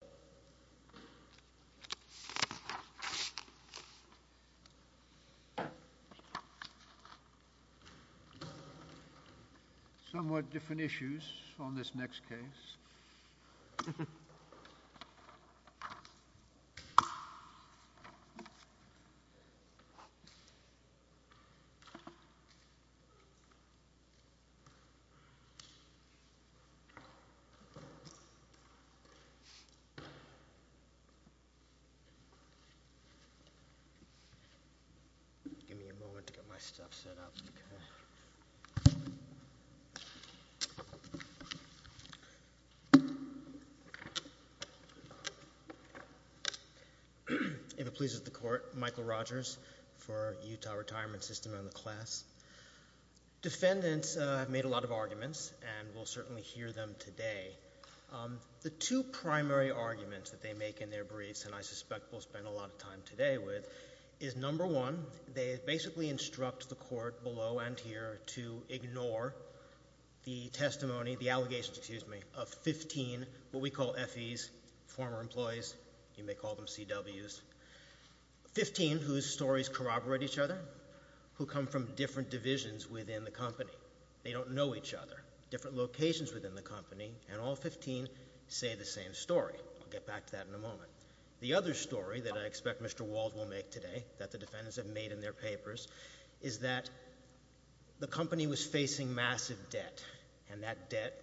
McCollum Retirement Sys v. McCollum McCollum Retirement Sys v. McCollum Give me a moment to get my stuff set up. If it pleases the Court, Michael Rogers for Utah Retirement System and the class. Defendants have made a lot of arguments and we'll certainly hear them today. The two primary arguments that they make in their briefs, and I suspect we'll spend a lot of time today with, is number one, they basically instruct the Court below and here to ignore the testimony, the allegations, excuse me, of 15, what we call FEs, former employees, you may call them CWs, 15 whose stories corroborate each other, who come from different divisions within the company. They don't know each other, different locations within the company, and all 15 say the same story. We'll get back to that in a moment. The other story that I expect Mr. Wald will make today, that the defendants have made in their papers, is that the company was facing massive debt and that debt,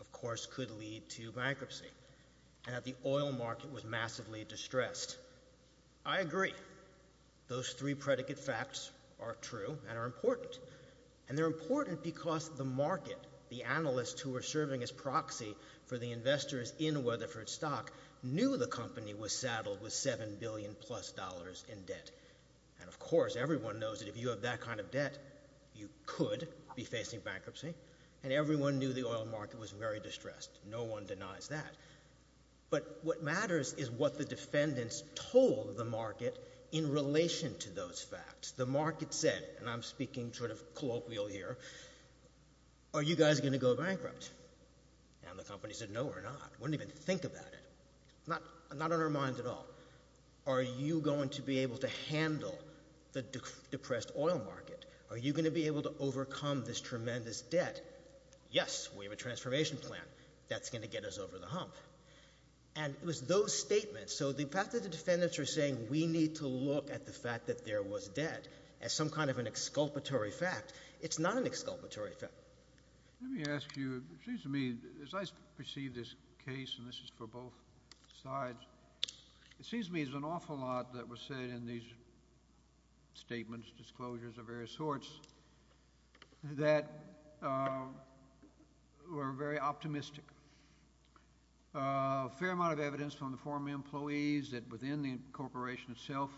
of course, could lead to bankruptcy. And that the oil market was massively distressed. I agree. Those three predicate facts are true and are important. And they're important because the market, the analysts who are serving as proxy for the investors in Weatherford stock, knew the company was saddled with $7 billion plus in debt. And, of course, everyone knows that if you have that kind of debt, you could be facing bankruptcy. And everyone knew the oil market was very distressed. No one denies that. But what matters is what the defendants told the market in relation to those facts. The market said, and I'm speaking sort of colloquial here, are you guys going to go bankrupt? And the company said no, we're not. Wouldn't even think about it. Not on our minds at all. Are you going to be able to handle the depressed oil market? Are you going to be able to overcome this tremendous debt? Yes, we have a transformation plan. That's going to get us over the hump. And it was those statements. So the fact that the defendants are saying we need to look at the fact that there was debt as some kind of an exculpatory fact, it's not an exculpatory fact. Let me ask you, it seems to me, as I perceive this case, and this is for both sides, it seems to me there's an awful lot that was said in these statements, disclosures of various sorts, that were very optimistic. A fair amount of evidence from the former employees that within the corporation itself,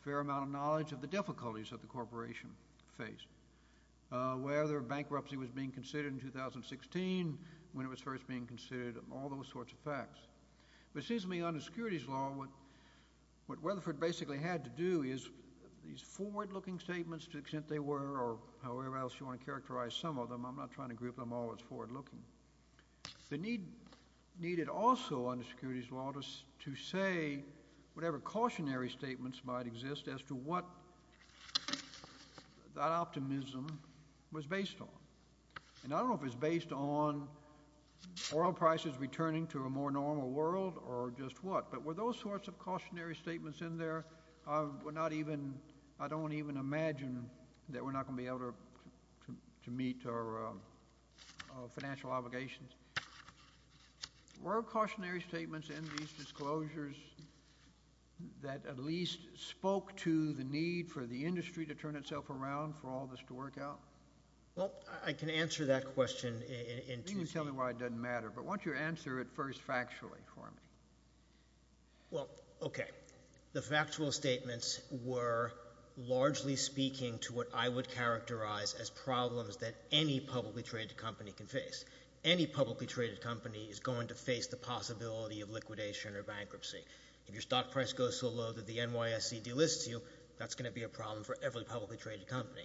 a fair amount of knowledge of the difficulties that the corporation faced. Whether bankruptcy was being considered in 2016, when it was first being considered, all those sorts of facts. But it seems to me under securities law, what Weatherford basically had to do is these forward-looking statements, to the extent they were, or however else you want to characterize some of them, I'm not trying to group them all as forward-looking. The need needed also under securities law to say whatever cautionary statements might exist as to what that optimism was based on. And I don't know if it's based on oil prices returning to a more normal world or just what, but were those sorts of cautionary statements in there? I don't even imagine that we're not going to be able to meet our financial obligations. Were cautionary statements in these disclosures that at least spoke to the need for the industry to turn itself around for all this to work out? Well, I can answer that question in two sentences. But why don't you answer it first factually for me? Well, okay. The factual statements were largely speaking to what I would characterize as problems that any publicly traded company can face. Any publicly traded company is going to face the possibility of liquidation or bankruptcy. If your stock price goes so low that the NYSE delists you, that's going to be a problem for every publicly traded company.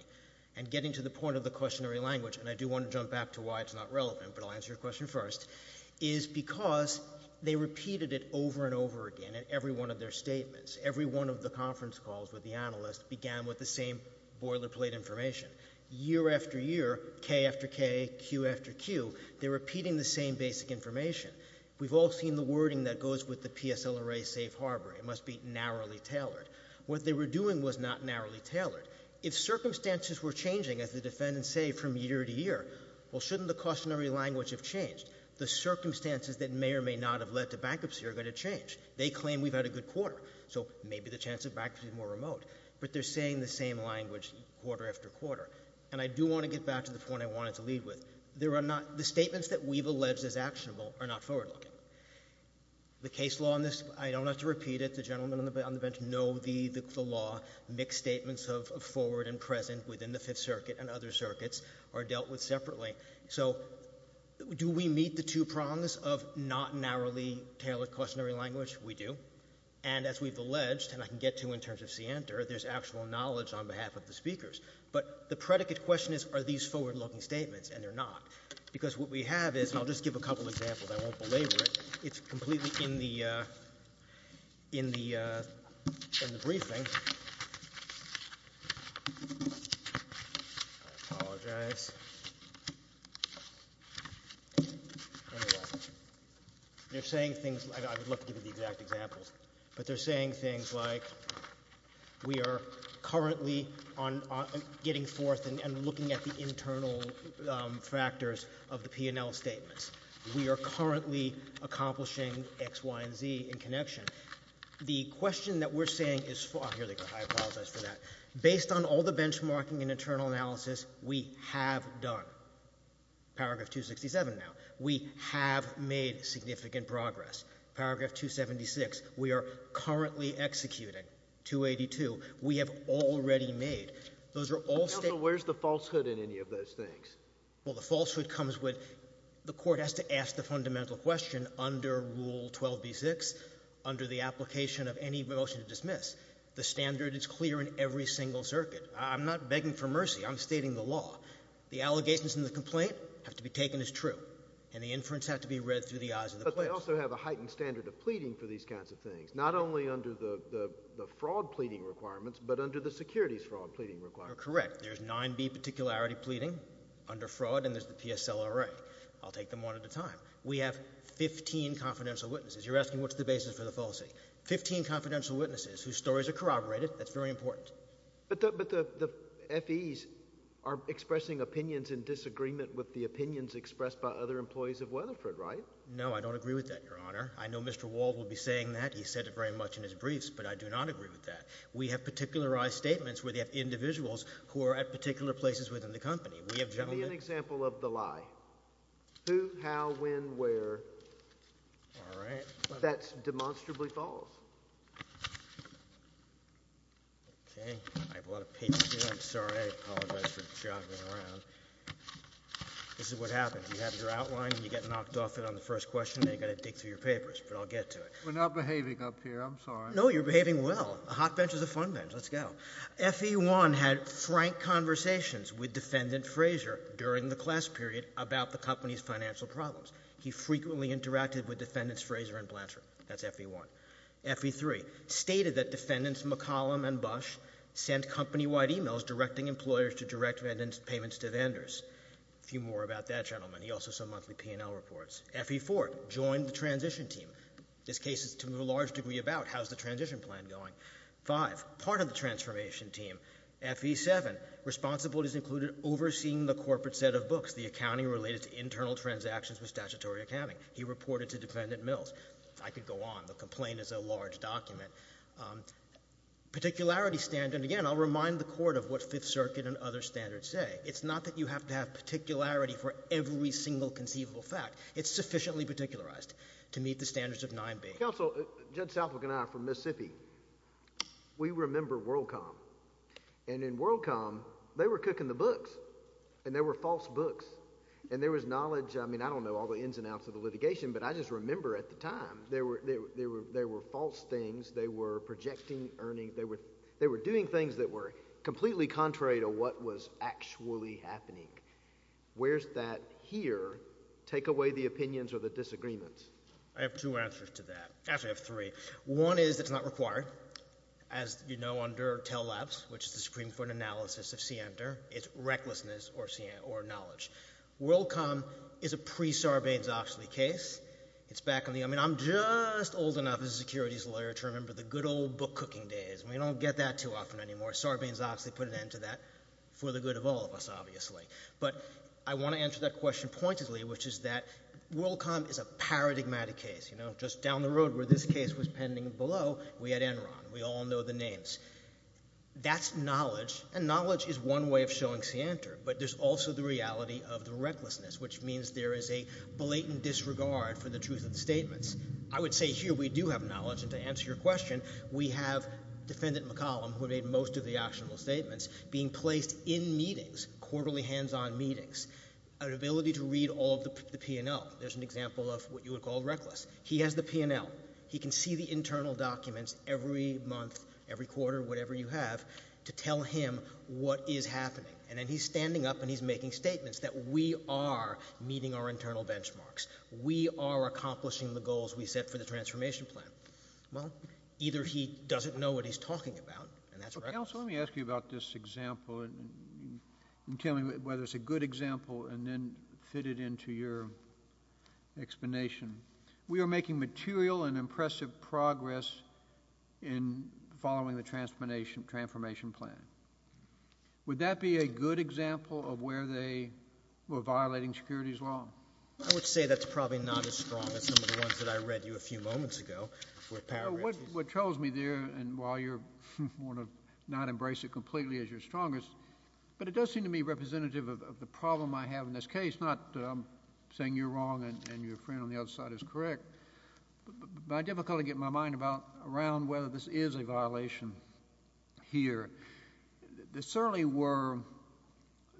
And getting to the point of the cautionary language, and I do want to jump back to why it's not relevant, but I'll answer your question first, is because they repeated it over and over again in every one of their statements. Every one of the conference calls with the analyst began with the same boilerplate information. Year after year, K after K, Q after Q, they're repeating the same basic information. We've all seen the wording that goes with the PSLRA safe harbor. It must be narrowly tailored. What they were doing was not narrowly tailored. If circumstances were changing, as the defendants say from year to year, well, shouldn't the cautionary language have changed? The circumstances that may or may not have led to bankruptcy are going to change. They claim we've had a good quarter, so maybe the chance of bankruptcy is more remote. But they're saying the same language quarter after quarter. And I do want to get back to the point I wanted to lead with. The statements that we've alleged as actionable are not forward-looking. The case law on this, I don't have to repeat it. The gentlemen on the bench know the law. Mixed statements of forward and present within the Fifth Circuit and other circuits are dealt with separately. So do we meet the two prongs of not narrowly tailored cautionary language? We do. And as we've alleged, and I can get to in terms of scienter, there's actual knowledge on behalf of the speakers. But the predicate question is, are these forward-looking statements? And they're not. Because what we have is, and I'll just give a couple examples. I won't belabor it. It's completely in the briefing. I apologize. They're saying things, I would love to give you the exact examples. But they're saying things like, we are currently getting forth and looking at the internal factors of the P&L statements. We are currently accomplishing X, Y, and Z in connection. The question that we're saying is, here they go. I apologize for that. Based on all the benchmarking and internal analysis, we have done. Paragraph 267 now. We have made significant progress. Paragraph 276. We are currently executing. 282. We have already made. Those are all statements. Counsel, where's the falsehood in any of those things? Well, the falsehood comes with, the Court has to ask the fundamental question under Rule 12b-6, under the application of any motion to dismiss. The standard is clear in every single circuit. I'm not begging for mercy. I'm stating the law. The allegations in the complaint have to be taken as true. And the inference has to be read through the eyes of the plaintiff. But they also have a heightened standard of pleading for these kinds of things, not only under the fraud pleading requirements, but under the securities fraud pleading requirements. Correct. There's 9b particularity pleading under fraud, and there's the PSLRA. I'll take them one at a time. We have 15 confidential witnesses. You're asking what's the basis for the fallacy. Fifteen confidential witnesses whose stories are corroborated. That's very important. But the FEs are expressing opinions in disagreement with the opinions expressed by other employees of Weatherford, right? No, I don't agree with that, Your Honor. I know Mr. Wald will be saying that. He said it very much in his briefs. But I do not agree with that. We have particularized statements where they have individuals who are at particular places within the company. We have gentlemen. Give me an example of the lie. Who, how, when, where. All right. That demonstrably falls. Okay. I have a lot of papers here. I'm sorry. I apologize for jogging around. This is what happens. You have your outline, and you get knocked off it on the first question, and you've got to dig through your papers. But I'll get to it. We're not behaving up here. I'm sorry. No, you're behaving well. A hot bench is a fun bench. Let's go. FE1 had frank conversations with Defendant Fraser during the class period about the company's financial problems. He frequently interacted with Defendants Fraser and Blanchard. That's FE1. FE3 stated that Defendants McCollum and Bush sent company-wide emails directing employers to direct payments to vendors. A few more about that gentleman. He also sent monthly P&L reports. FE4 joined the transition team. This case is to a large degree about how's the transition plan going. Five, part of the transformation team. FE7 responsibilities included overseeing the corporate set of books, the accounting related to internal transactions with statutory accounting. He reported to Defendant Mills. I could go on. The complaint is a large document. Particularity standard, again, I'll remind the Court of what Fifth Circuit and other standards say. It's not that you have to have particularity for every single conceivable fact. It's sufficiently particularized to meet the standards of 9B. Counsel, Judd Southwick and I are from Mississippi. We remember WorldCom. And in WorldCom, they were cooking the books. And they were false books. And there was knowledge. I mean, I don't know all the ins and outs of the litigation, but I just remember at the time there were false things. They were projecting earnings. They were doing things that were completely contrary to what was actually happening. Where's that here take away the opinions or the disagreements? I have two answers to that. Actually, I have three. One is it's not required. As you know under TELAPS, which is the Supreme Court analysis of scienter, it's recklessness or knowledge. WorldCom is a pre-Sarbanes-Oxley case. I mean, I'm just old enough as a securities lawyer to remember the good old book cooking days. We don't get that too often anymore. Sarbanes-Oxley put an end to that for the good of all of us, obviously. But I want to answer that question pointedly, which is that WorldCom is a paradigmatic case. Just down the road where this case was pending below, we had Enron. We all know the names. That's knowledge. And knowledge is one way of showing scienter. But there's also the reality of the recklessness, which means there is a blatant disregard for the truth of the statements. I would say here we do have knowledge. And to answer your question, we have Defendant McCollum, who made most of the actionable statements, being placed in meetings, quarterly hands-on meetings, an ability to read all of the P&L. There's an example of what you would call reckless. He has the P&L. He can see the internal documents every month, every quarter, whatever you have, to tell him what is happening. And then he's standing up and he's making statements that we are meeting our internal benchmarks. We are accomplishing the goals we set for the transformation plan. Well, either he doesn't know what he's talking about, and that's right. Counsel, let me ask you about this example and tell me whether it's a good example and then fit it into your explanation. We are making material and impressive progress in following the transformation plan. Would that be a good example of where they were violating securities law? I would say that's probably not as strong as some of the ones that I read you a few moments ago. What troubles me there, and while you're going to not embrace it completely as your strongest, but it does seem to me representative of the problem I have in this case, not saying you're wrong and your friend on the other side is correct, but I have difficulty getting my mind around whether this is a violation here. There certainly were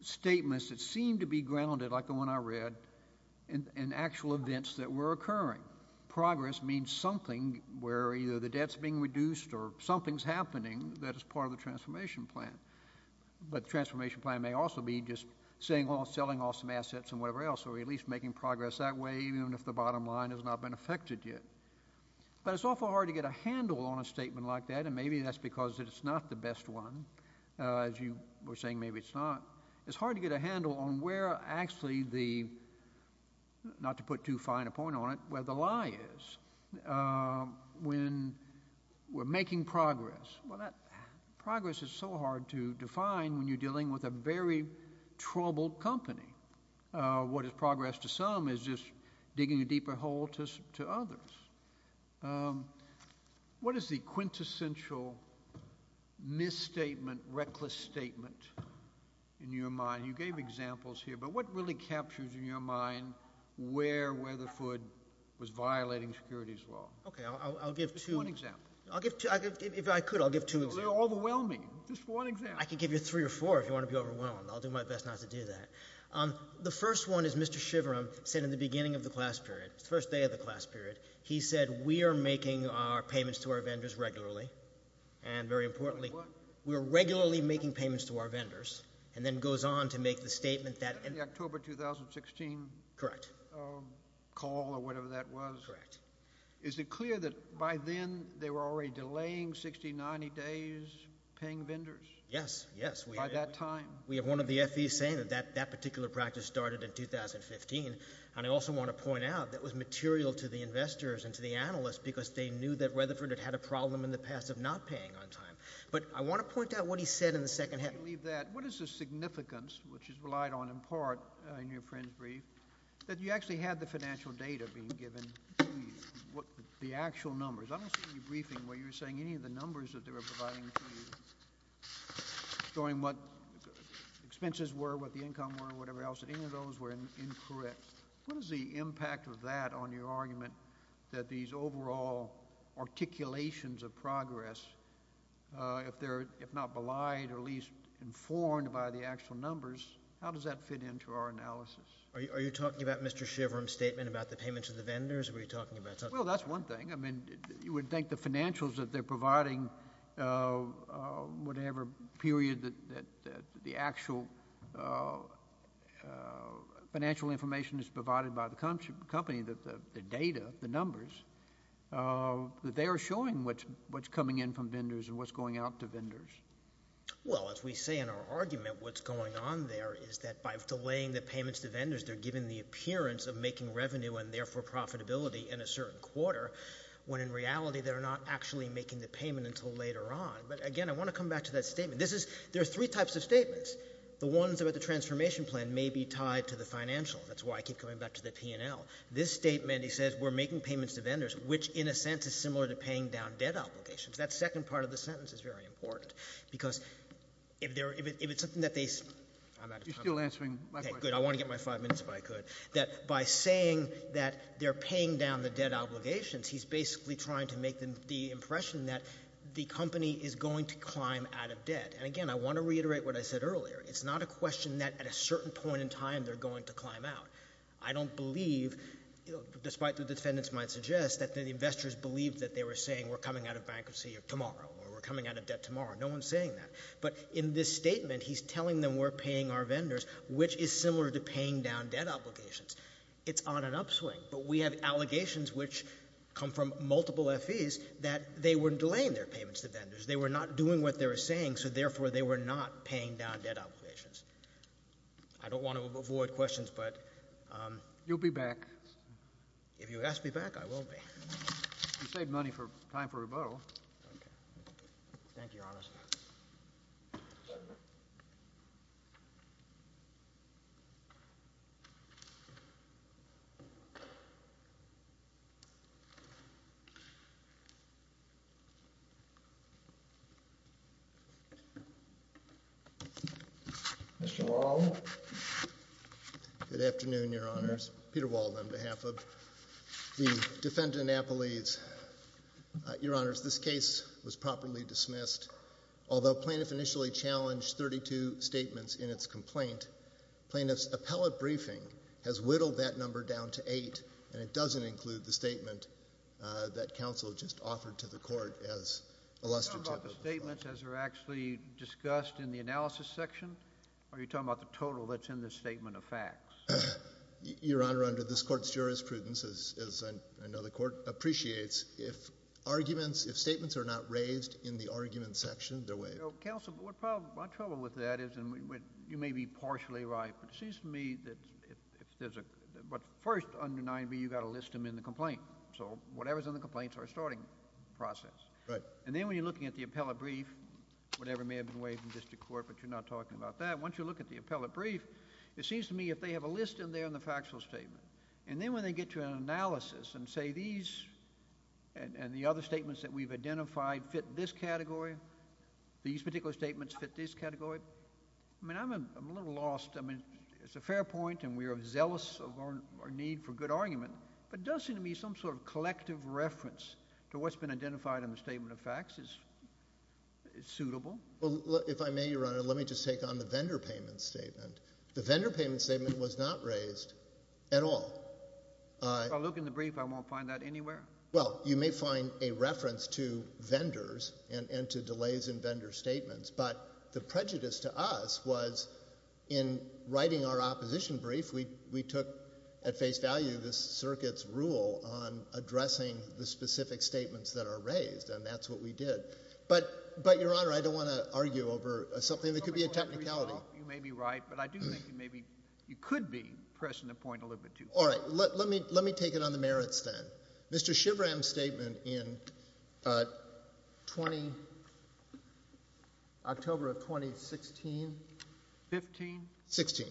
statements that seemed to be grounded, like the one I read, in actual events that were occurring. Progress means something where either the debt's being reduced or something's happening that is part of the transformation plan, but the transformation plan may also be just selling off some assets and whatever else or at least making progress that way even if the bottom line has not been affected yet. But it's awful hard to get a handle on a statement like that, and maybe that's because it's not the best one. As you were saying, maybe it's not. It's hard to get a handle on where actually the, not to put too fine a point on it, where the lie is when we're making progress. Well, that progress is so hard to define when you're dealing with a very troubled company. What is progress to some is just digging a deeper hole to others. What is the quintessential misstatement, reckless statement in your mind? You gave examples here, but what really captures in your mind where Weatherford was violating securities law? Okay, I'll give two. Just one example. If I could, I'll give two examples. They're overwhelming. Just one example. I can give you three or four if you want to be overwhelmed. I'll do my best not to do that. The first one is Mr. Shiverum said in the beginning of the class period, the first day of the class period, he said we are making our payments to our vendors regularly, and very importantly, we're regularly making payments to our vendors, and then goes on to make the statement that in the October 2016 call or whatever that was, is it clear that by then they were already delaying 60, 90 days paying vendors? Yes, yes. By that time? We have one of the FVs saying that that particular practice started in 2015, and I also want to point out that was material to the investors and to the analysts because they knew that Weatherford had had a problem in the past of not paying on time. But I want to point out what he said in the second half. I believe that. What is the significance, which is relied on in part in your friend's brief, that you actually had the financial data being given to you, the actual numbers? I don't see in your briefing where you were saying any of the numbers that they were providing to you, showing what expenses were, what the income were, whatever else, that any of those were incorrect. What is the impact of that on your argument that these overall articulations of progress, if not belied or at least informed by the actual numbers, how does that fit into our analysis? Are you talking about Mr. Shiverum's statement about the payments to the vendors? Or were you talking about something else? Well, that's one thing. I mean, you would think the financials that they're providing, whatever period that the actual financial information is provided by the company, the data, the numbers, that they are showing what's coming in from vendors and what's going out to vendors. Well, as we say in our argument, what's going on there is that by delaying the payments to vendors, they're giving the appearance of making revenue and therefore profitability in a certain quarter, when in reality they're not actually making the payment until later on. But again, I want to come back to that statement. There are three types of statements. The ones about the transformation plan may be tied to the financial. That's why I keep coming back to the P&L. This statement, he says, we're making payments to vendors, which in a sense is similar to paying down debt obligations. That second part of the sentence is very important because if it's something that they... You're still answering my question. Okay, good. I want to get my five minutes if I could. That by saying that they're paying down the debt obligations, he's basically trying to make the impression that the company is going to climb out of debt. And again, I want to reiterate what I said earlier. It's not a question that at a certain point in time they're going to climb out. I don't believe, despite what the defendants might suggest, that the investors believed that they were saying we're coming out of bankruptcy tomorrow or we're coming out of debt tomorrow. No-one's saying that. But in this statement, he's telling them we're paying our vendors, which is similar to paying down debt obligations. It's on an upswing. But we have allegations which come from multiple FEs that they were delaying their payments to vendors. They were not doing what they were saying, so therefore they were not paying down debt obligations. I don't want to avoid questions, but... You'll be back. If you ask me back, I will be. Thank you, Your Honor. Mr. Walden. Good afternoon, Your Honors. Peter Walden, on behalf of the defendant, Napolese. Your Honors, this case was properly dismissed. Although plaintiff initially challenged 32 statements in its complaint, plaintiff's appellate briefing and the plaintiff's appeal has not yet been heard. And it doesn't include the statement that counsel just offered to the court as illustrative... Are you talking about the statements as they're actually discussed in the analysis section, or are you talking about the total that's in the statement of facts? Your Honor, under this court's jurisprudence, as I know the court appreciates, if statements are not raised in the argument section, they're waived. Counsel, my trouble with that is, and you may be partially right, but it seems to me that if there's a... But first, under 9b, you've got to list them in the complaint. So whatever's in the complaint's our starting process. And then when you're looking at the appellate brief, whatever may have been waived in district court, but you're not talking about that, once you look at the appellate brief, it seems to me if they have a list in there in the factual statement, and then when they get to an analysis and say these and the other statements that we've identified fit this category, these particular statements fit this category, I mean, I'm a little lost. I mean, it's a fair point, and we are zealous of our need for good argument, but it does seem to me some sort of collective reference to what's been identified in the statement of facts is suitable. Well, if I may, Your Honor, let me just take on the vendor payment statement. The vendor payment statement was not raised at all. If I look in the brief, I won't find that anywhere? Well, you may find a reference to vendors and to delays in vendor statements, but the prejudice to us was in writing our opposition brief, we took at face value the circuit's rule on addressing the specific statements that are raised, and that's what we did. But, Your Honor, I don't want to argue over something that could be a technicality. You may be right, but I do think maybe you could be pressing the point a little bit too far. All right, let me take it on the merits then. Mr. Shivram's statement in October of 2016? Fifteen. Sixteen.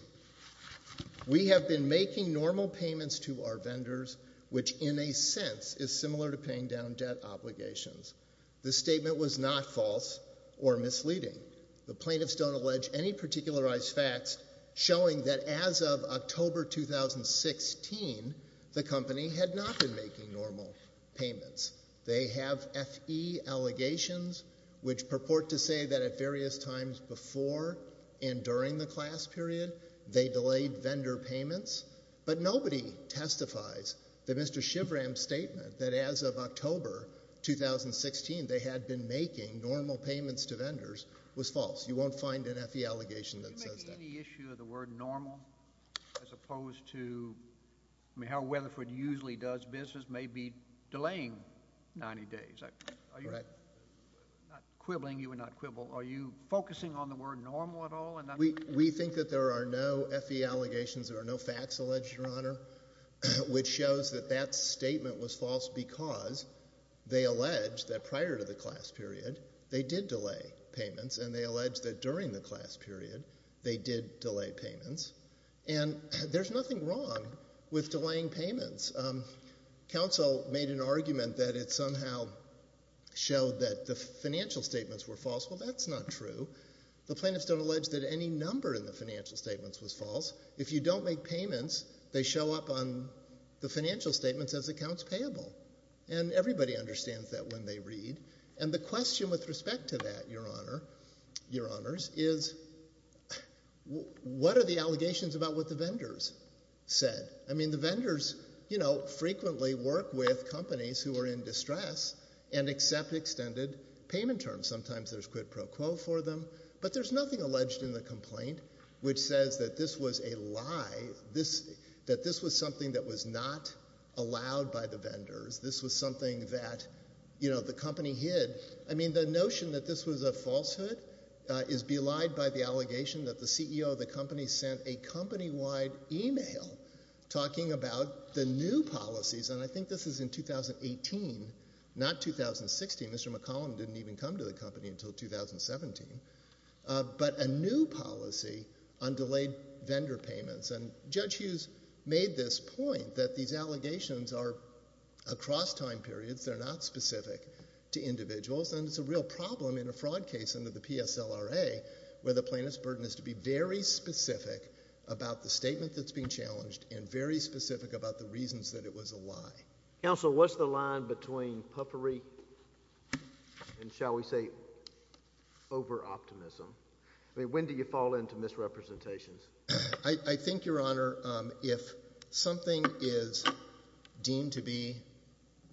We have been making normal payments to our vendors, which in a sense is similar to paying down debt obligations. This statement was not false or misleading. The plaintiffs don't allege any particularized facts showing that as of October 2016, the company had not been making normal payments. They have F.E. allegations which purport to say that at various times before and during the class period, they delayed vendor payments. But nobody testifies that Mr. Shivram's statement that as of October 2016, they had been making normal payments to vendors was false. You won't find an F.E. allegation that says that. I see the issue of the word normal as opposed to... I mean, how Weatherford usually does business may be delaying 90 days. I'm not quibbling. You are not quibble. Are you focusing on the word normal at all? We think that there are no F.E. allegations, there are no facts alleged, Your Honor, which shows that that statement was false because they allege that prior to the class period, they did delay payments, and they allege that during the class period, they did delay payments. And there's nothing wrong with delaying payments. Counsel made an argument that it somehow showed that the financial statements were false. Well, that's not true. The plaintiffs don't allege that any number in the financial statements was false. If you don't make payments, they show up on the financial statements as accounts payable. And everybody understands that when they read. And the question with respect to that, Your Honor, Your Honors, is what are the allegations about what the vendors said? I mean, the vendors, you know, frequently work with companies who are in distress and accept extended payment terms. Sometimes there's quid pro quo for them, but there's nothing alleged in the complaint which says that this was a lie, that this was something that was not allowed by the vendors. This was something that, you know, the company hid. I mean, the notion that this was a falsehood is belied by the allegation that the CEO of the company sent a company-wide email talking about the new policies. And I think this is in 2018, not 2016. Mr. McCollum didn't even come to the company until 2017. But a new policy on delayed vendor payments. And Judge Hughes made this point that these allegations are across time periods. They're not specific to individuals. And it's a real problem in a fraud case under the PSLRA where the plaintiff's burden is to be very specific about the statement that's being challenged and very specific about the reasons that it was a lie. Counsel, what's the line between puffery and, shall we say, over-optimism? I mean, when do you fall into misrepresentations? I think, Your Honor, if something is deemed to be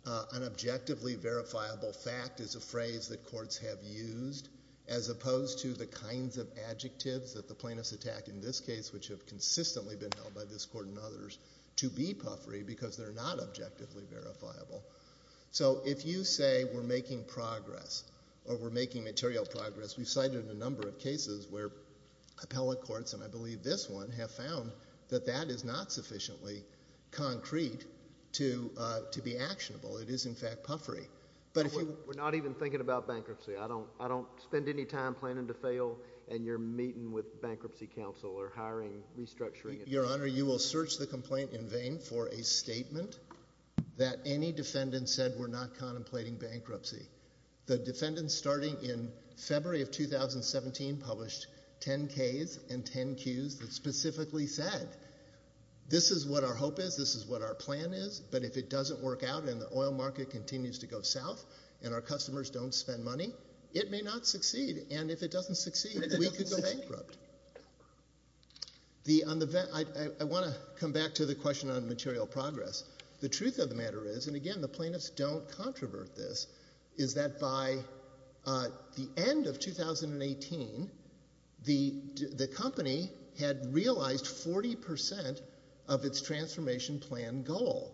an objectively verifiable fact as a phrase that courts have used, as opposed to the kinds of adjectives that the plaintiffs attack in this case, which have consistently been held by this court and others, to be puffery because they're not objectively verifiable. So if you say we're making progress or we're making material progress... We've cited a number of cases where appellate courts, and I believe this one, have found that that is not sufficiently concrete to be actionable. It is, in fact, puffery. But if you... We're not even thinking about bankruptcy. I don't spend any time planning to fail and you're meeting with bankruptcy counsel or hiring, restructuring... Your Honor, you will search the complaint in vain for a statement that any defendant said we're not contemplating bankruptcy. The defendant, starting in February of 2017, published ten Ks and ten Qs that specifically said, this is what our hope is, this is what our plan is, but if it doesn't work out and the oil market continues to go south and our customers don't spend money, it may not succeed. And if it doesn't succeed, we could go bankrupt. I want to come back to the question on material progress. The truth of the matter is, and again, the plaintiffs don't controvert this, is that by the end of 2018, the company had realized 40% of its transformation plan goal.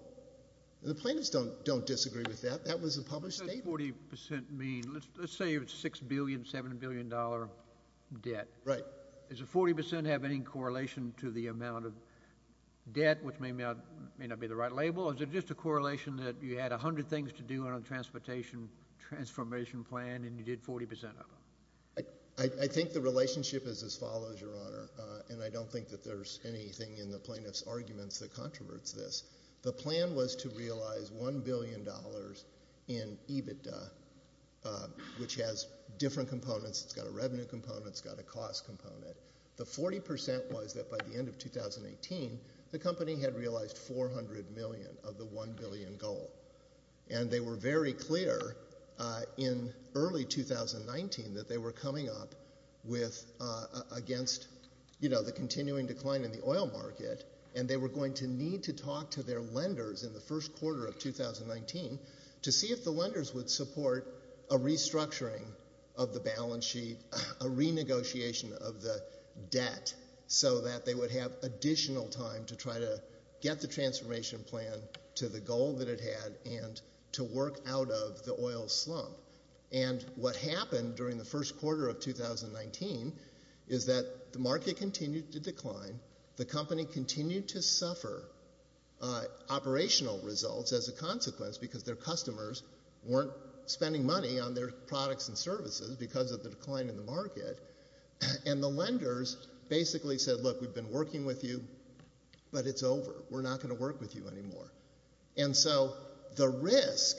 The plaintiffs don't disagree with that. That was a published statement. What does 40% mean? Let's say it's $6 billion, $7 billion debt. Right. Does the 40% have any correlation to the amount of debt, which may not be the right label, or is it just a correlation that you had 100 things to do on the transportation transformation plan and you did 40% of them? I think the relationship is as follows, Your Honor, and I don't think that there's anything in the plaintiff's arguments that controverts this. The plan was to realize $1 billion in EBITDA, which has different components. It's got a revenue component. It's got a cost component. The 40% was that by the end of 2018, the company had realized $400 million of the $1 billion goal, and they were very clear in early 2019 that they were coming up with against, you know, the continuing decline in the oil market, and they were going to need to talk to their lenders in the first quarter of 2019 to see if the lenders would support a restructuring of the balance sheet, a renegotiation of the debt, so that they would have additional time to try to get the transformation plan to the goal that it had and to work out of the oil slump, and what happened during the first quarter of 2019 is that the market continued to decline. The company continued to suffer operational results as a consequence because their customers weren't spending money on their products and services because of the decline in the market, and the lenders basically said, Look, we've been working with you, but it's over. We're not going to work with you anymore. And so the risk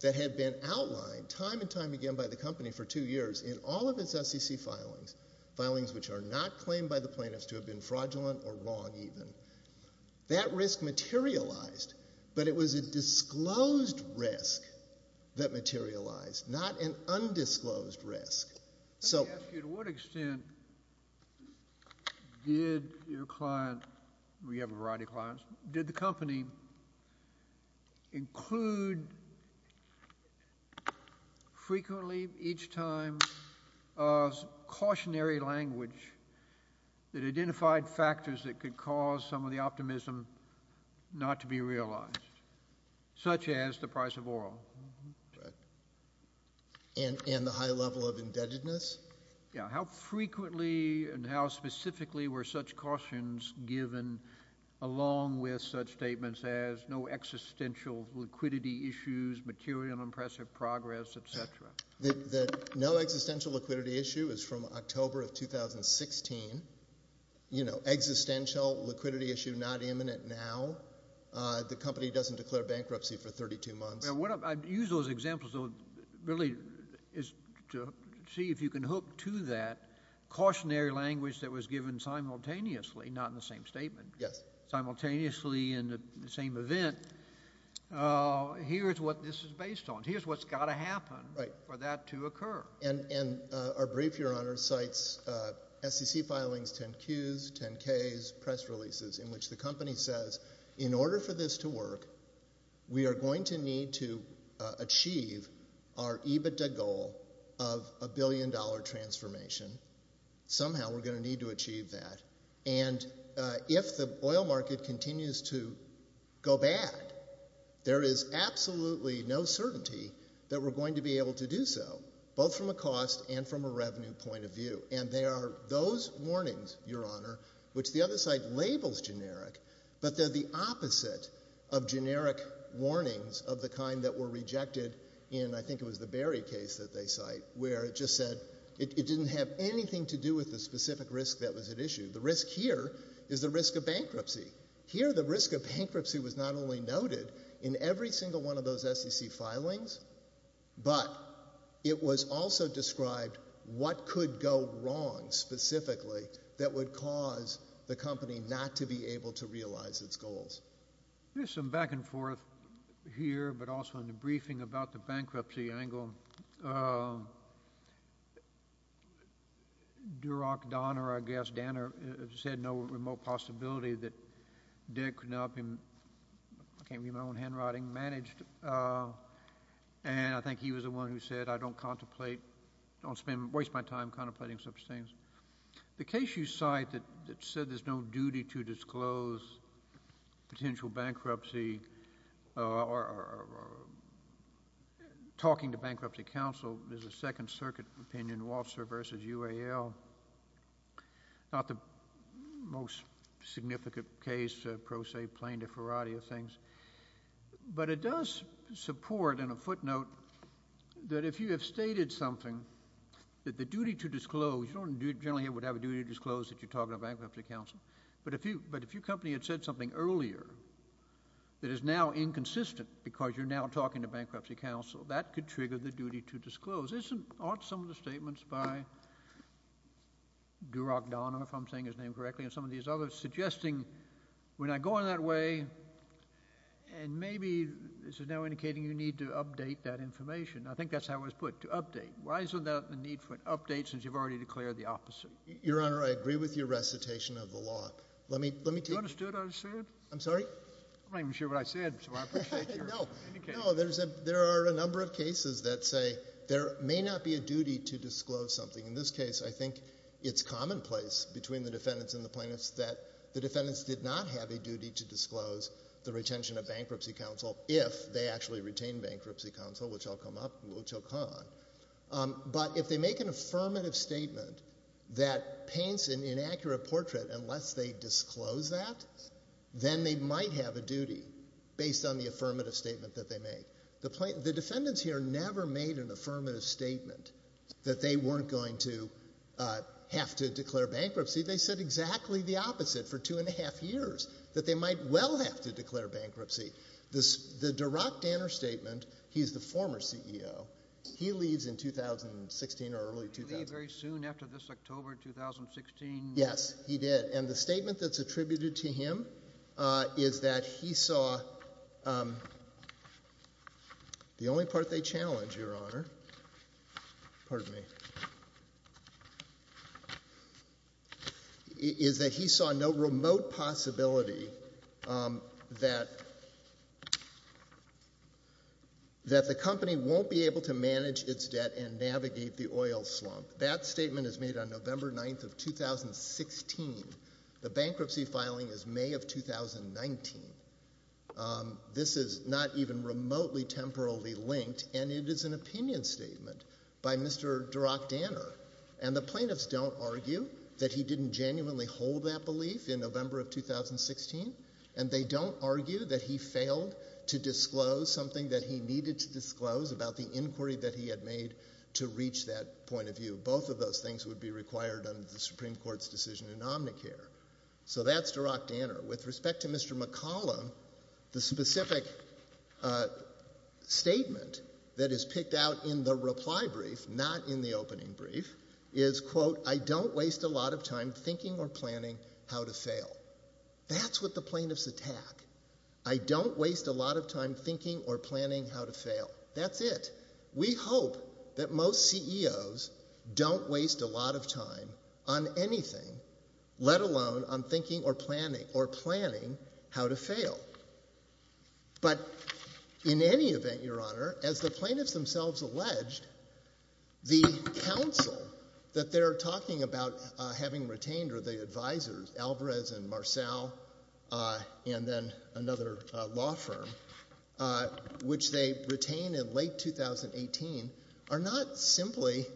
that had been outlined time and time again by the company for two years in all of its SEC filings, filings which are not claimed by the plaintiffs to have been fraudulent or wrong even, that risk materialized, but it was a disclosed risk that materialized, not an undisclosed risk. To what extent did your client, you have a variety of clients, did the company include frequently each time a cautionary language that identified factors that could cause some of the optimism not to be realized, such as the price of oil? And the high level of indebtedness? Yeah. How frequently and how specifically were such cautions given along with such statements as no existential liquidity issues, material and impressive progress, et cetera? The no existential liquidity issue is from October of 2016. You know, existential liquidity issue not imminent now. The company doesn't declare bankruptcy for 32 months. I use those examples really to see if you can hook to that cautionary language that was given simultaneously, not in the same statement. Yes. Simultaneously in the same event. Here's what this is based on. Here's what's got to happen for that to occur. And our brief, Your Honor, cites SEC filings 10-Qs, 10-Ks, press releases, in which the company says, in order for this to work, we are going to need to achieve our EBITDA goal of a billion-dollar transformation. Somehow we're going to need to achieve that. And if the oil market continues to go bad, there is absolutely no certainty that we're going to be able to do so, both from a cost and from a revenue point of view. And there are those warnings, Your Honor, which the other side labels generic, but they're the opposite of generic warnings of the kind that were rejected in, I think it was the Barry case that they cite, where it just said it didn't have anything to do with the specific risk that was at issue. The risk here is the risk of bankruptcy. Here the risk of bankruptcy was not only noted in every single one of those SEC filings, but it was also described what could go wrong specifically that would cause the company not to be able to realize its goals. There's some back-and-forth here, but also in the briefing about the bankruptcy angle. Uh...Duroc Donner, I guess, Danner said no remote possibility that Dick could not be... I can't read my own handwriting...managed. And I think he was the one who said, I don't contemplate, don't spend... waste my time contemplating such things. The case you cite that said there's no duty to disclose potential bankruptcy or talking to Bankruptcy Council is a Second Circuit opinion, Walser v. UAL. Not the most significant case, pro se, plain deferrati of things. But it does support in a footnote that if you have stated something that the duty to disclose... generally it would have a duty to disclose that you're talking to Bankruptcy Council. But if your company had said something earlier that is now inconsistent because you're now talking to Bankruptcy Council, that could trigger the duty to disclose. Isn't...aren't some of the statements by... Duroc Donner, if I'm saying his name correctly, and some of these others, suggesting we're not going that way and maybe this is now indicating you need to update that information. I think that's how it was put, to update. Why is there the need for an update since you've already declared the opposite? Your Honor, I agree with your recitation of the law. Let me take... You understood what I said? I'm sorry? I'm not even sure what I said, so I appreciate your indication. No, there are a number of cases that say there may not be a duty to disclose something. In this case, I think it's commonplace between the defendants and the plaintiffs that the defendants did not have a duty to disclose the retention of Bankruptcy Council if they actually retained Bankruptcy Council, which I'll come up, which I'll call on. But if they make an affirmative statement that paints an inaccurate portrait, unless they disclose that, then they might have a duty based on the affirmative statement that they made. The defendants here never made an affirmative statement that they weren't going to have to declare bankruptcy. They said exactly the opposite for 2½ years, that they might well have to declare bankruptcy. The Duroc Donner statement, he's the former CEO. He leaves in 2016 or early 2000. Did he leave very soon after this, October 2016? Yes, he did. And the statement that's attributed to him is that he saw... The only part they challenge, Your Honor, pardon me, is that he saw no remote possibility that... that the company won't be able to manage its debt and navigate the oil slump. That statement is made on November 9th of 2016. The bankruptcy filing is May of 2019. This is not even remotely temporarily linked, and it is an opinion statement by Mr. Duroc Donner. that he didn't genuinely hold that belief in November of 2016, and they don't argue that he failed to disclose something that he needed to disclose about the inquiry that he had made to reach that point of view. Both of those things would be required under the Supreme Court's decision in Omnicare. So that's Duroc Donner. With respect to Mr. McCollum, the specific statement that is picked out in the reply brief, not in the opening brief, is, quote, I don't waste a lot of time thinking or planning how to fail. That's what the plaintiffs attack. I don't waste a lot of time thinking or planning how to fail. That's it. We hope that most CEOs don't waste a lot of time on anything, let alone on thinking or planning or planning how to fail. But in any event, Your Honor, as the plaintiffs themselves alleged, the counsel that they're talking about having retained are the advisors, Alvarez and Marcell, and then another law firm, which they retained in late 2018, are not simply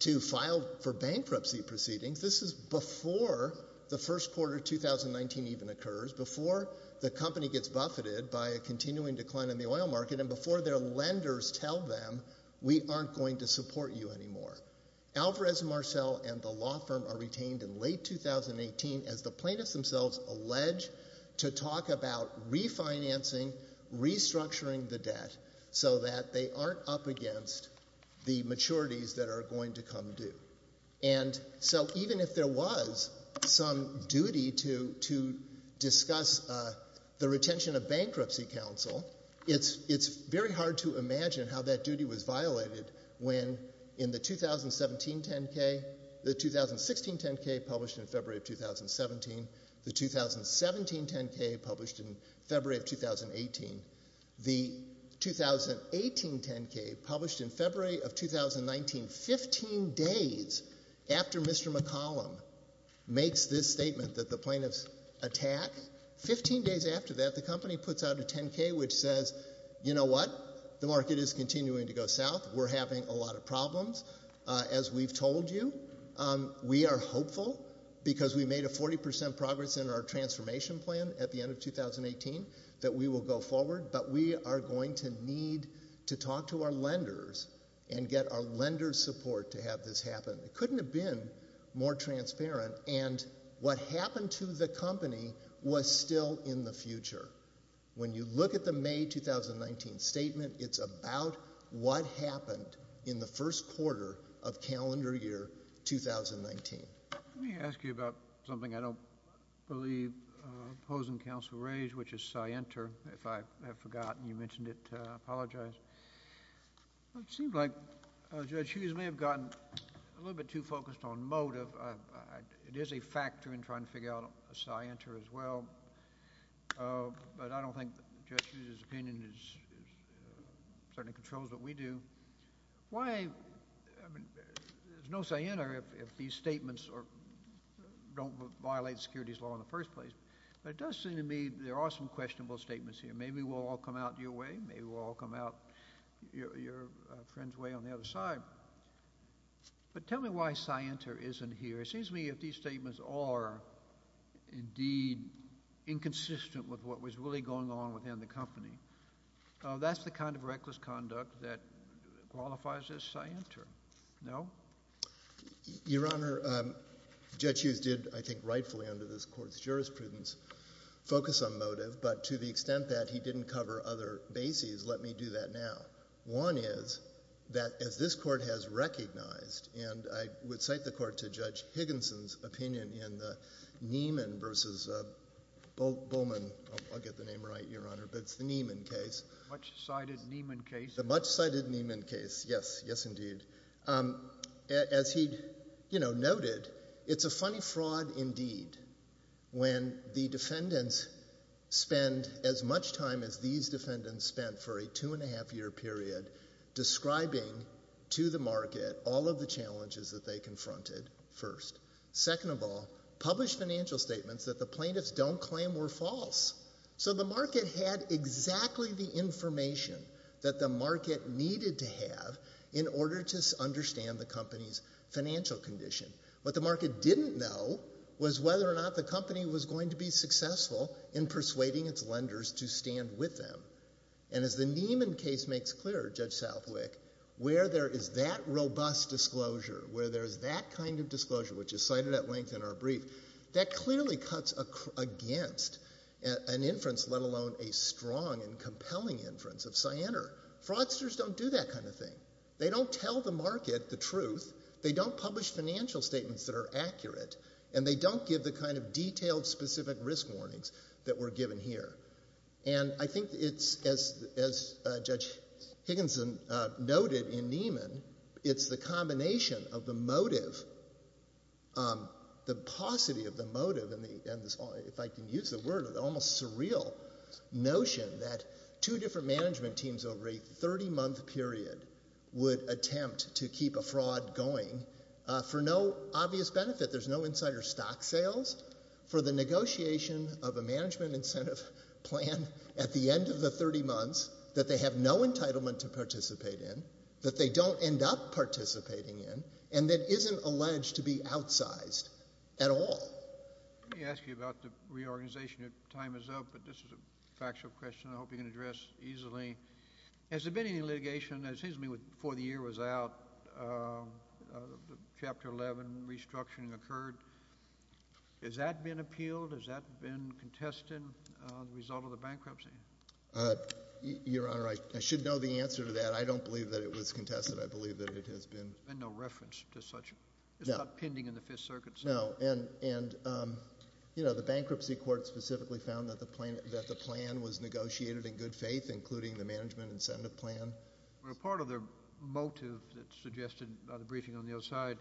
to file for bankruptcy proceedings. This is before the first quarter of 2019 even occurs, before the company gets buffeted by a continuing decline in the oil market, and before their lenders tell them we aren't going to support you anymore. Alvarez and Marcell and the law firm are retained in late 2018 as the plaintiffs themselves allege to talk about refinancing, restructuring the debt so that they aren't up against the maturities that are going to come due. And so even if there was some duty to discuss the retention of bankruptcy counsel, it's very hard to imagine how that duty was violated when in the 2017 10-K, the 2016 10-K published in February of 2017, the 2017 10-K published in February of 2018, the 2018 10-K published in February of 2019, 15 days after Mr. McCollum makes this statement that the plaintiffs attack, 15 days after that, the company puts out a 10-K which says, you know what? The market is continuing to go south. We're having a lot of problems. As we've told you, we are hopeful because we made a 40% progress in our transformation plan at the end of 2018 that we will go forward, but we are going to need to talk to our lenders and get our lenders' support to have this happen. It couldn't have been more transparent, and what happened to the company was still in the future. When you look at the May 2019 statement, it's about what happened in the first quarter of calendar year 2019. Let me ask you about something I don't believe opposing counsel raised, which is Scienter, if I have forgotten. You mentioned it. I apologize. It seems like Judge Hughes may have gotten a little bit too focused on motive. It is a factor in trying to figure out Scienter as well. I don't think Judge Hughes' opinion certainly controls what we do. There's no Scienter if these statements don't violate securities law in the first place. It does seem to me there are some questionable statements here. Maybe we'll all come out your way. Maybe we'll all come out your friend's way on the other side. Tell me why Scienter isn't here. It seems to me if these statements are indeed inconsistent with what was really going on within the company, that's the kind of reckless conduct that qualifies as Scienter. No? Your Honor, Judge Hughes did, I think rightfully, under this court's jurisprudence focus on motive, but to the extent that he didn't cover other bases, let me do that now. One is that, as this court has recognized, and I would cite the court to Judge Higginson's opinion in the Nieman v. Bowman, I'll get the name right, Your Honor, but it's the Nieman case. The much-cited Nieman case. The much-cited Nieman case, yes, yes indeed. As he noted, it's a funny fraud indeed when the defendants spend as much time as these defendants spent for a two-and-a-half-year period describing to the market all of the challenges that they confronted first. Second of all, published financial statements that the plaintiffs don't claim were false. So the market had exactly the information that the market needed to have in order to understand the company's financial condition. What the market didn't know was whether or not the company was going to be successful in persuading its lenders to stand with them. And as the Nieman case makes clear, Judge Southwick, where there is that robust disclosure, where there is that kind of disclosure, which is cited at length in our brief, that clearly cuts against an inference, let alone a strong and compelling inference of Sienner. Fraudsters don't do that kind of thing. They don't tell the market the truth. They don't publish financial statements that are accurate. And they don't give the kind of detailed, specific risk warnings that were given here. And I think it's, as Judge Higginson noted in Nieman, it's the combination of the motive, the paucity of the motive, and if I can use the word, the almost surreal notion that two different management teams over a 30-month period would attempt to keep a fraud going for no obvious benefit. There's no insider stock sales for the negotiation of a management incentive plan at the end of the 30 months that they have no entitlement to participate in, that they don't end up in a situation and that isn't alleged to be outsized at all. Let me ask you about the reorganization. Your time is up, but this is a factual question I hope you can address easily. Has there been any litigation, it seems to me, before the year was out, Chapter 11 restructuring occurred. Has that been appealed? Has that been contested as a result of the bankruptcy? Your Honor, I should know the answer to that. I don't believe that it was contested. I believe that it has been. There's been no reference to such. It's not pending in the Fifth Circuit. No. And, you know, the bankruptcy court specifically found that the plan was negotiated in good faith, including the management incentive plan. Part of the motive that's suggested by the briefing on the other side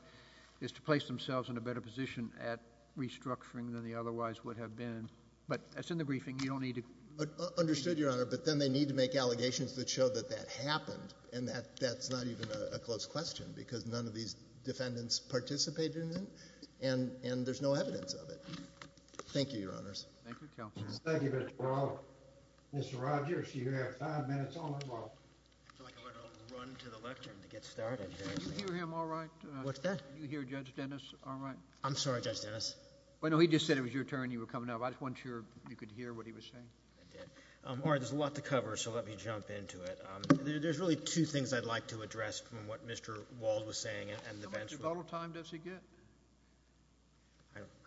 is to place themselves in a better position at restructuring than they otherwise would have been. But that's in the briefing. You don't need to... Understood, Your Honor. But then they need to make allegations that show that that happened and that that's not even a close question because none of these defendants participated in it and there's no evidence of it. Thank you, Your Honors. Thank you, Counsel. Thank you, Mr. Barolo. Mr. Rogers, you have five minutes on the clock. I feel like I better run to the lectern to get started here. Do you hear him all right? What's that? Do you hear Judge Dennis all right? I'm sorry, Judge Dennis. Well, no, he just said it was your turn and you were coming up. I just wasn't sure you could hear what he was saying. I did. All right, there's a lot to cover so let me jump into it. There's really two things I'd like to address from what Mr. Wald was saying and the bench... How much rebuttal time does he get?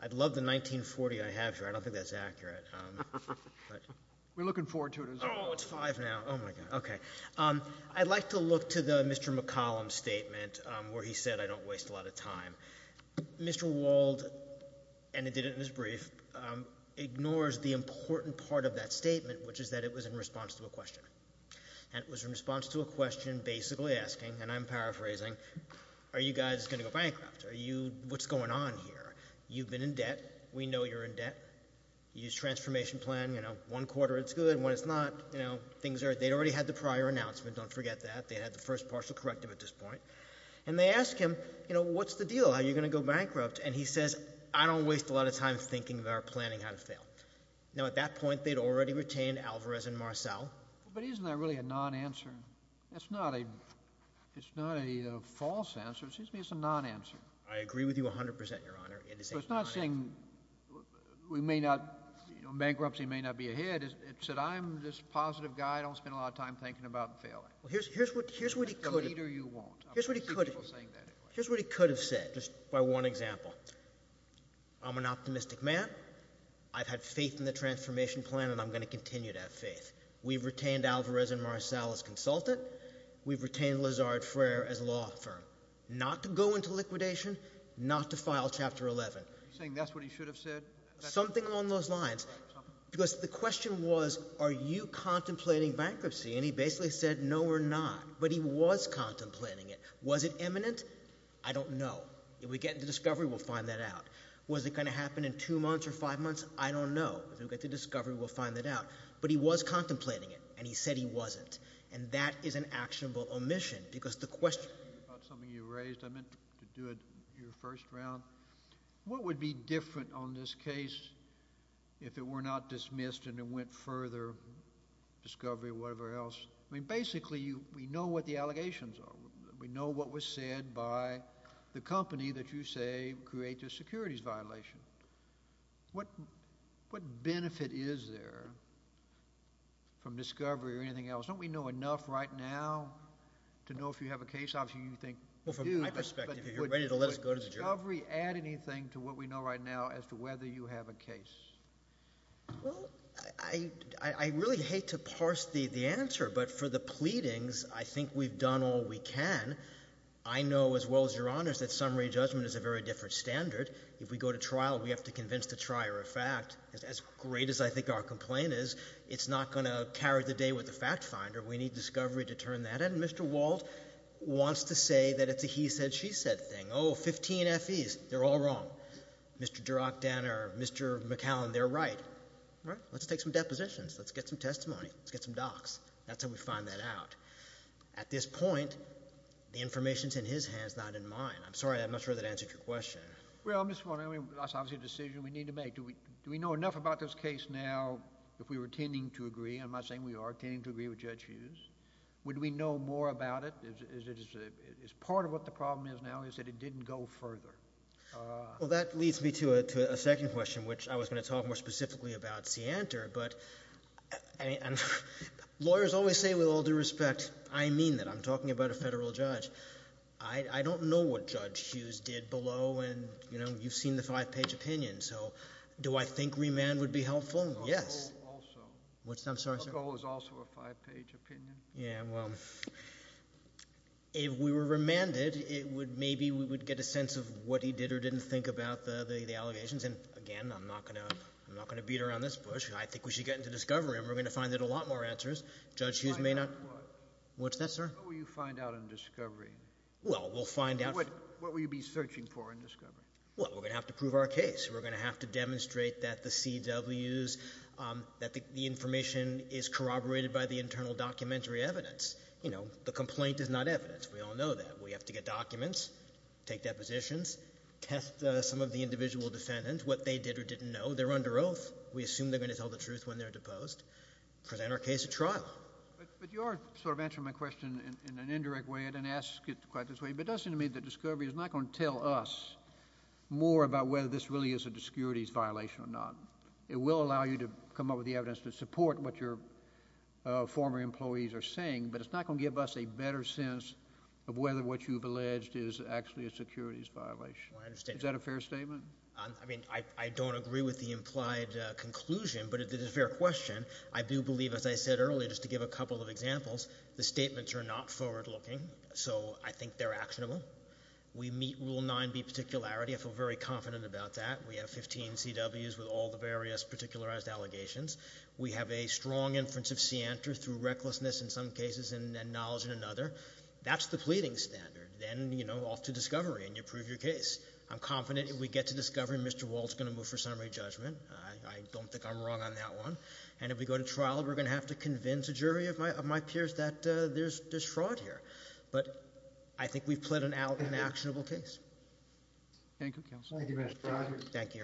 I'd love the 1940 I have here. I don't think that's accurate. We're looking forward to it as well. Oh, it's five now. Oh, my God. Okay. I'd like to look to the Mr. McCollum statement where he said I don't waste a lot of time. Mr. Wald, and he did it in his brief, ignores the important part of that statement which is that it was in response to a question. And it was in response to a question basically asking, and I'm paraphrasing, are you guys going to go bankrupt? What's going on here? You've been in debt. We know you're in debt. Use transformation plan, you know, one quarter it's good and when it's not, you know, things are... They'd already had the prior announcement, don't forget that. They had the first partial corrective at this point. And they ask him, you know, what's the deal? How are you going to go bankrupt? And he says, I don't waste a lot of time thinking about planning how to fail. Now at that point, they'd already retained Alvarez and Marcel. But isn't that really a non-answer? It's not a... It's not a false answer. It seems to me it's a non-answer. I agree with you a hundred percent, Your Honor. It is a non-answer. But it's not saying we may not, bankruptcy may not be ahead. It said I'm this positive guy. I don't spend a lot of time thinking about failing. Well, here's what he could have... Here's an example. I'm an optimistic man. I've had faith in the transformation plan and I'm going to continue to have faith. We've retained Alvarez and Marcel as consultant. We've retained Lazard Frere as law firm. Not to go into liquidation. Not to file Chapter 11. You're saying that's what he should have said? Something along those lines. Because the question was, are you contemplating bankruptcy? no, we're not. But he was contemplating it. Was it imminent? I don't know. If we get the discovery, we'll find out. But if it's not imminent, we'll find that out. Was it going to happen in two months or five months? I don't know. If we get the discovery, we'll find that out. But he was contemplating it and he said he wasn't. And that is an actionable omission because the question... About something you raised, I meant to do it your first round. What would be different on this case if it were not dismissed discovery, whatever else? I mean, basically, we know what the allegations are. We know what was said by the company that you say could have been responsible for creating the securities violation. What benefit is there from discovery or anything else? Don't we know enough right now to know if you have a case? Obviously, you think... Well, from my perspective, you're ready to let us go to the jury. Would discovery add anything to what we know right now as to whether you have a case? Well, I really hate to parse the answer, but for the pleadings, I think we've done all we can. I know, as well as Your Honor, that summary judgment is a very different standard. If we go to trial, we have to convince the trier of fact. As great as I think our complaint is, it's not going to carry the day with the fact finder. We need discovery to turn that in. Mr. Walt wants to say that it's a he-said-she-said thing. Oh, 15 FEs. They're all wrong. Mr. Durack-Danner, Mr. McAllen, they're right. All right? Let's take some depositions. Let's get some testimony. Let's get some docs. That's how we find that out. At this point, the information's in his hands, not in mine. I'm sorry. I'm not sure that answered your question. Well, Mr. Warner, that's obviously a decision we need to make. Do we know enough about this case now if we were tending to agree? Am I saying we are tending to agree with Judge Hughes? Would we know more about it? Is part of what the problem is now is that it didn't go further? Well, that leads me to a second question, which I was going to talk more specifically about Seantor. Lawyers always say, with all due respect, I mean that. I'm talking about a federal judge. I don't know what Judge Hughes did below. And, you know, you've seen the five-page opinion. So do I think remand would be helpful? Yes. Also. What's that? I'm sorry, sir. Also is also a five-page opinion. Yeah, well, if we were remanded, it would maybe we would get a sense of what he did or didn't think about the allegations. And again, I'm not going to beat around this bush. I think we should get into discovery and we're going to find a lot more answers. Judge Hughes may not have the answer we're going to our case. We're going to have to prove our case. We're going to have to demonstrate that the CWs, that the information is corroborated by the internal documentary evidence. You know, the complaint is not evidence. We all know that. We have to get documents, take depositions, test some of the individual defendants, what they did or didn't know. They're under oath. We assume they're going to tell the truth when they're deposed. We just present our case at trial. But you are sort of answering my question in an indirect way. I didn't ask it quite this way, but it does seem to me that discovery is not going to tell us more about whether this really is a securities violation or not. It will allow you to come up with the evidence to support what your former employees are saying, but it's not going to give us a better sense of whether what you've alleged is actually a securities violation. Is that a fair statement? I mean, I don't agree with the implied conclusion, but it is a fair question. I do believe, as I said earlier, just to give a couple of examples, the statements are not forward-looking, so I think they're actionable. We meet Rule 9B particularity. I feel very confident about that. We have 15 CWs with all the various particularized allegations. We have a strong inference of scienter through recklessness in some cases and knowledge in another. That's the pleading standard. Then, you know, off to discovery and you prove your case. I'm confident if we get to discovery, Mr. Wald's going to move for summary judgment. I don't think I'm wrong on that one. And if we go to trial, we're going to have to convince a jury of my peers that there's fraud here. we've plead Thank you. Thank you. Thank you. Thank you. Thank you. Thank you. Thank you. Thank you. Thank you. Thank you. Thank you. Thank you.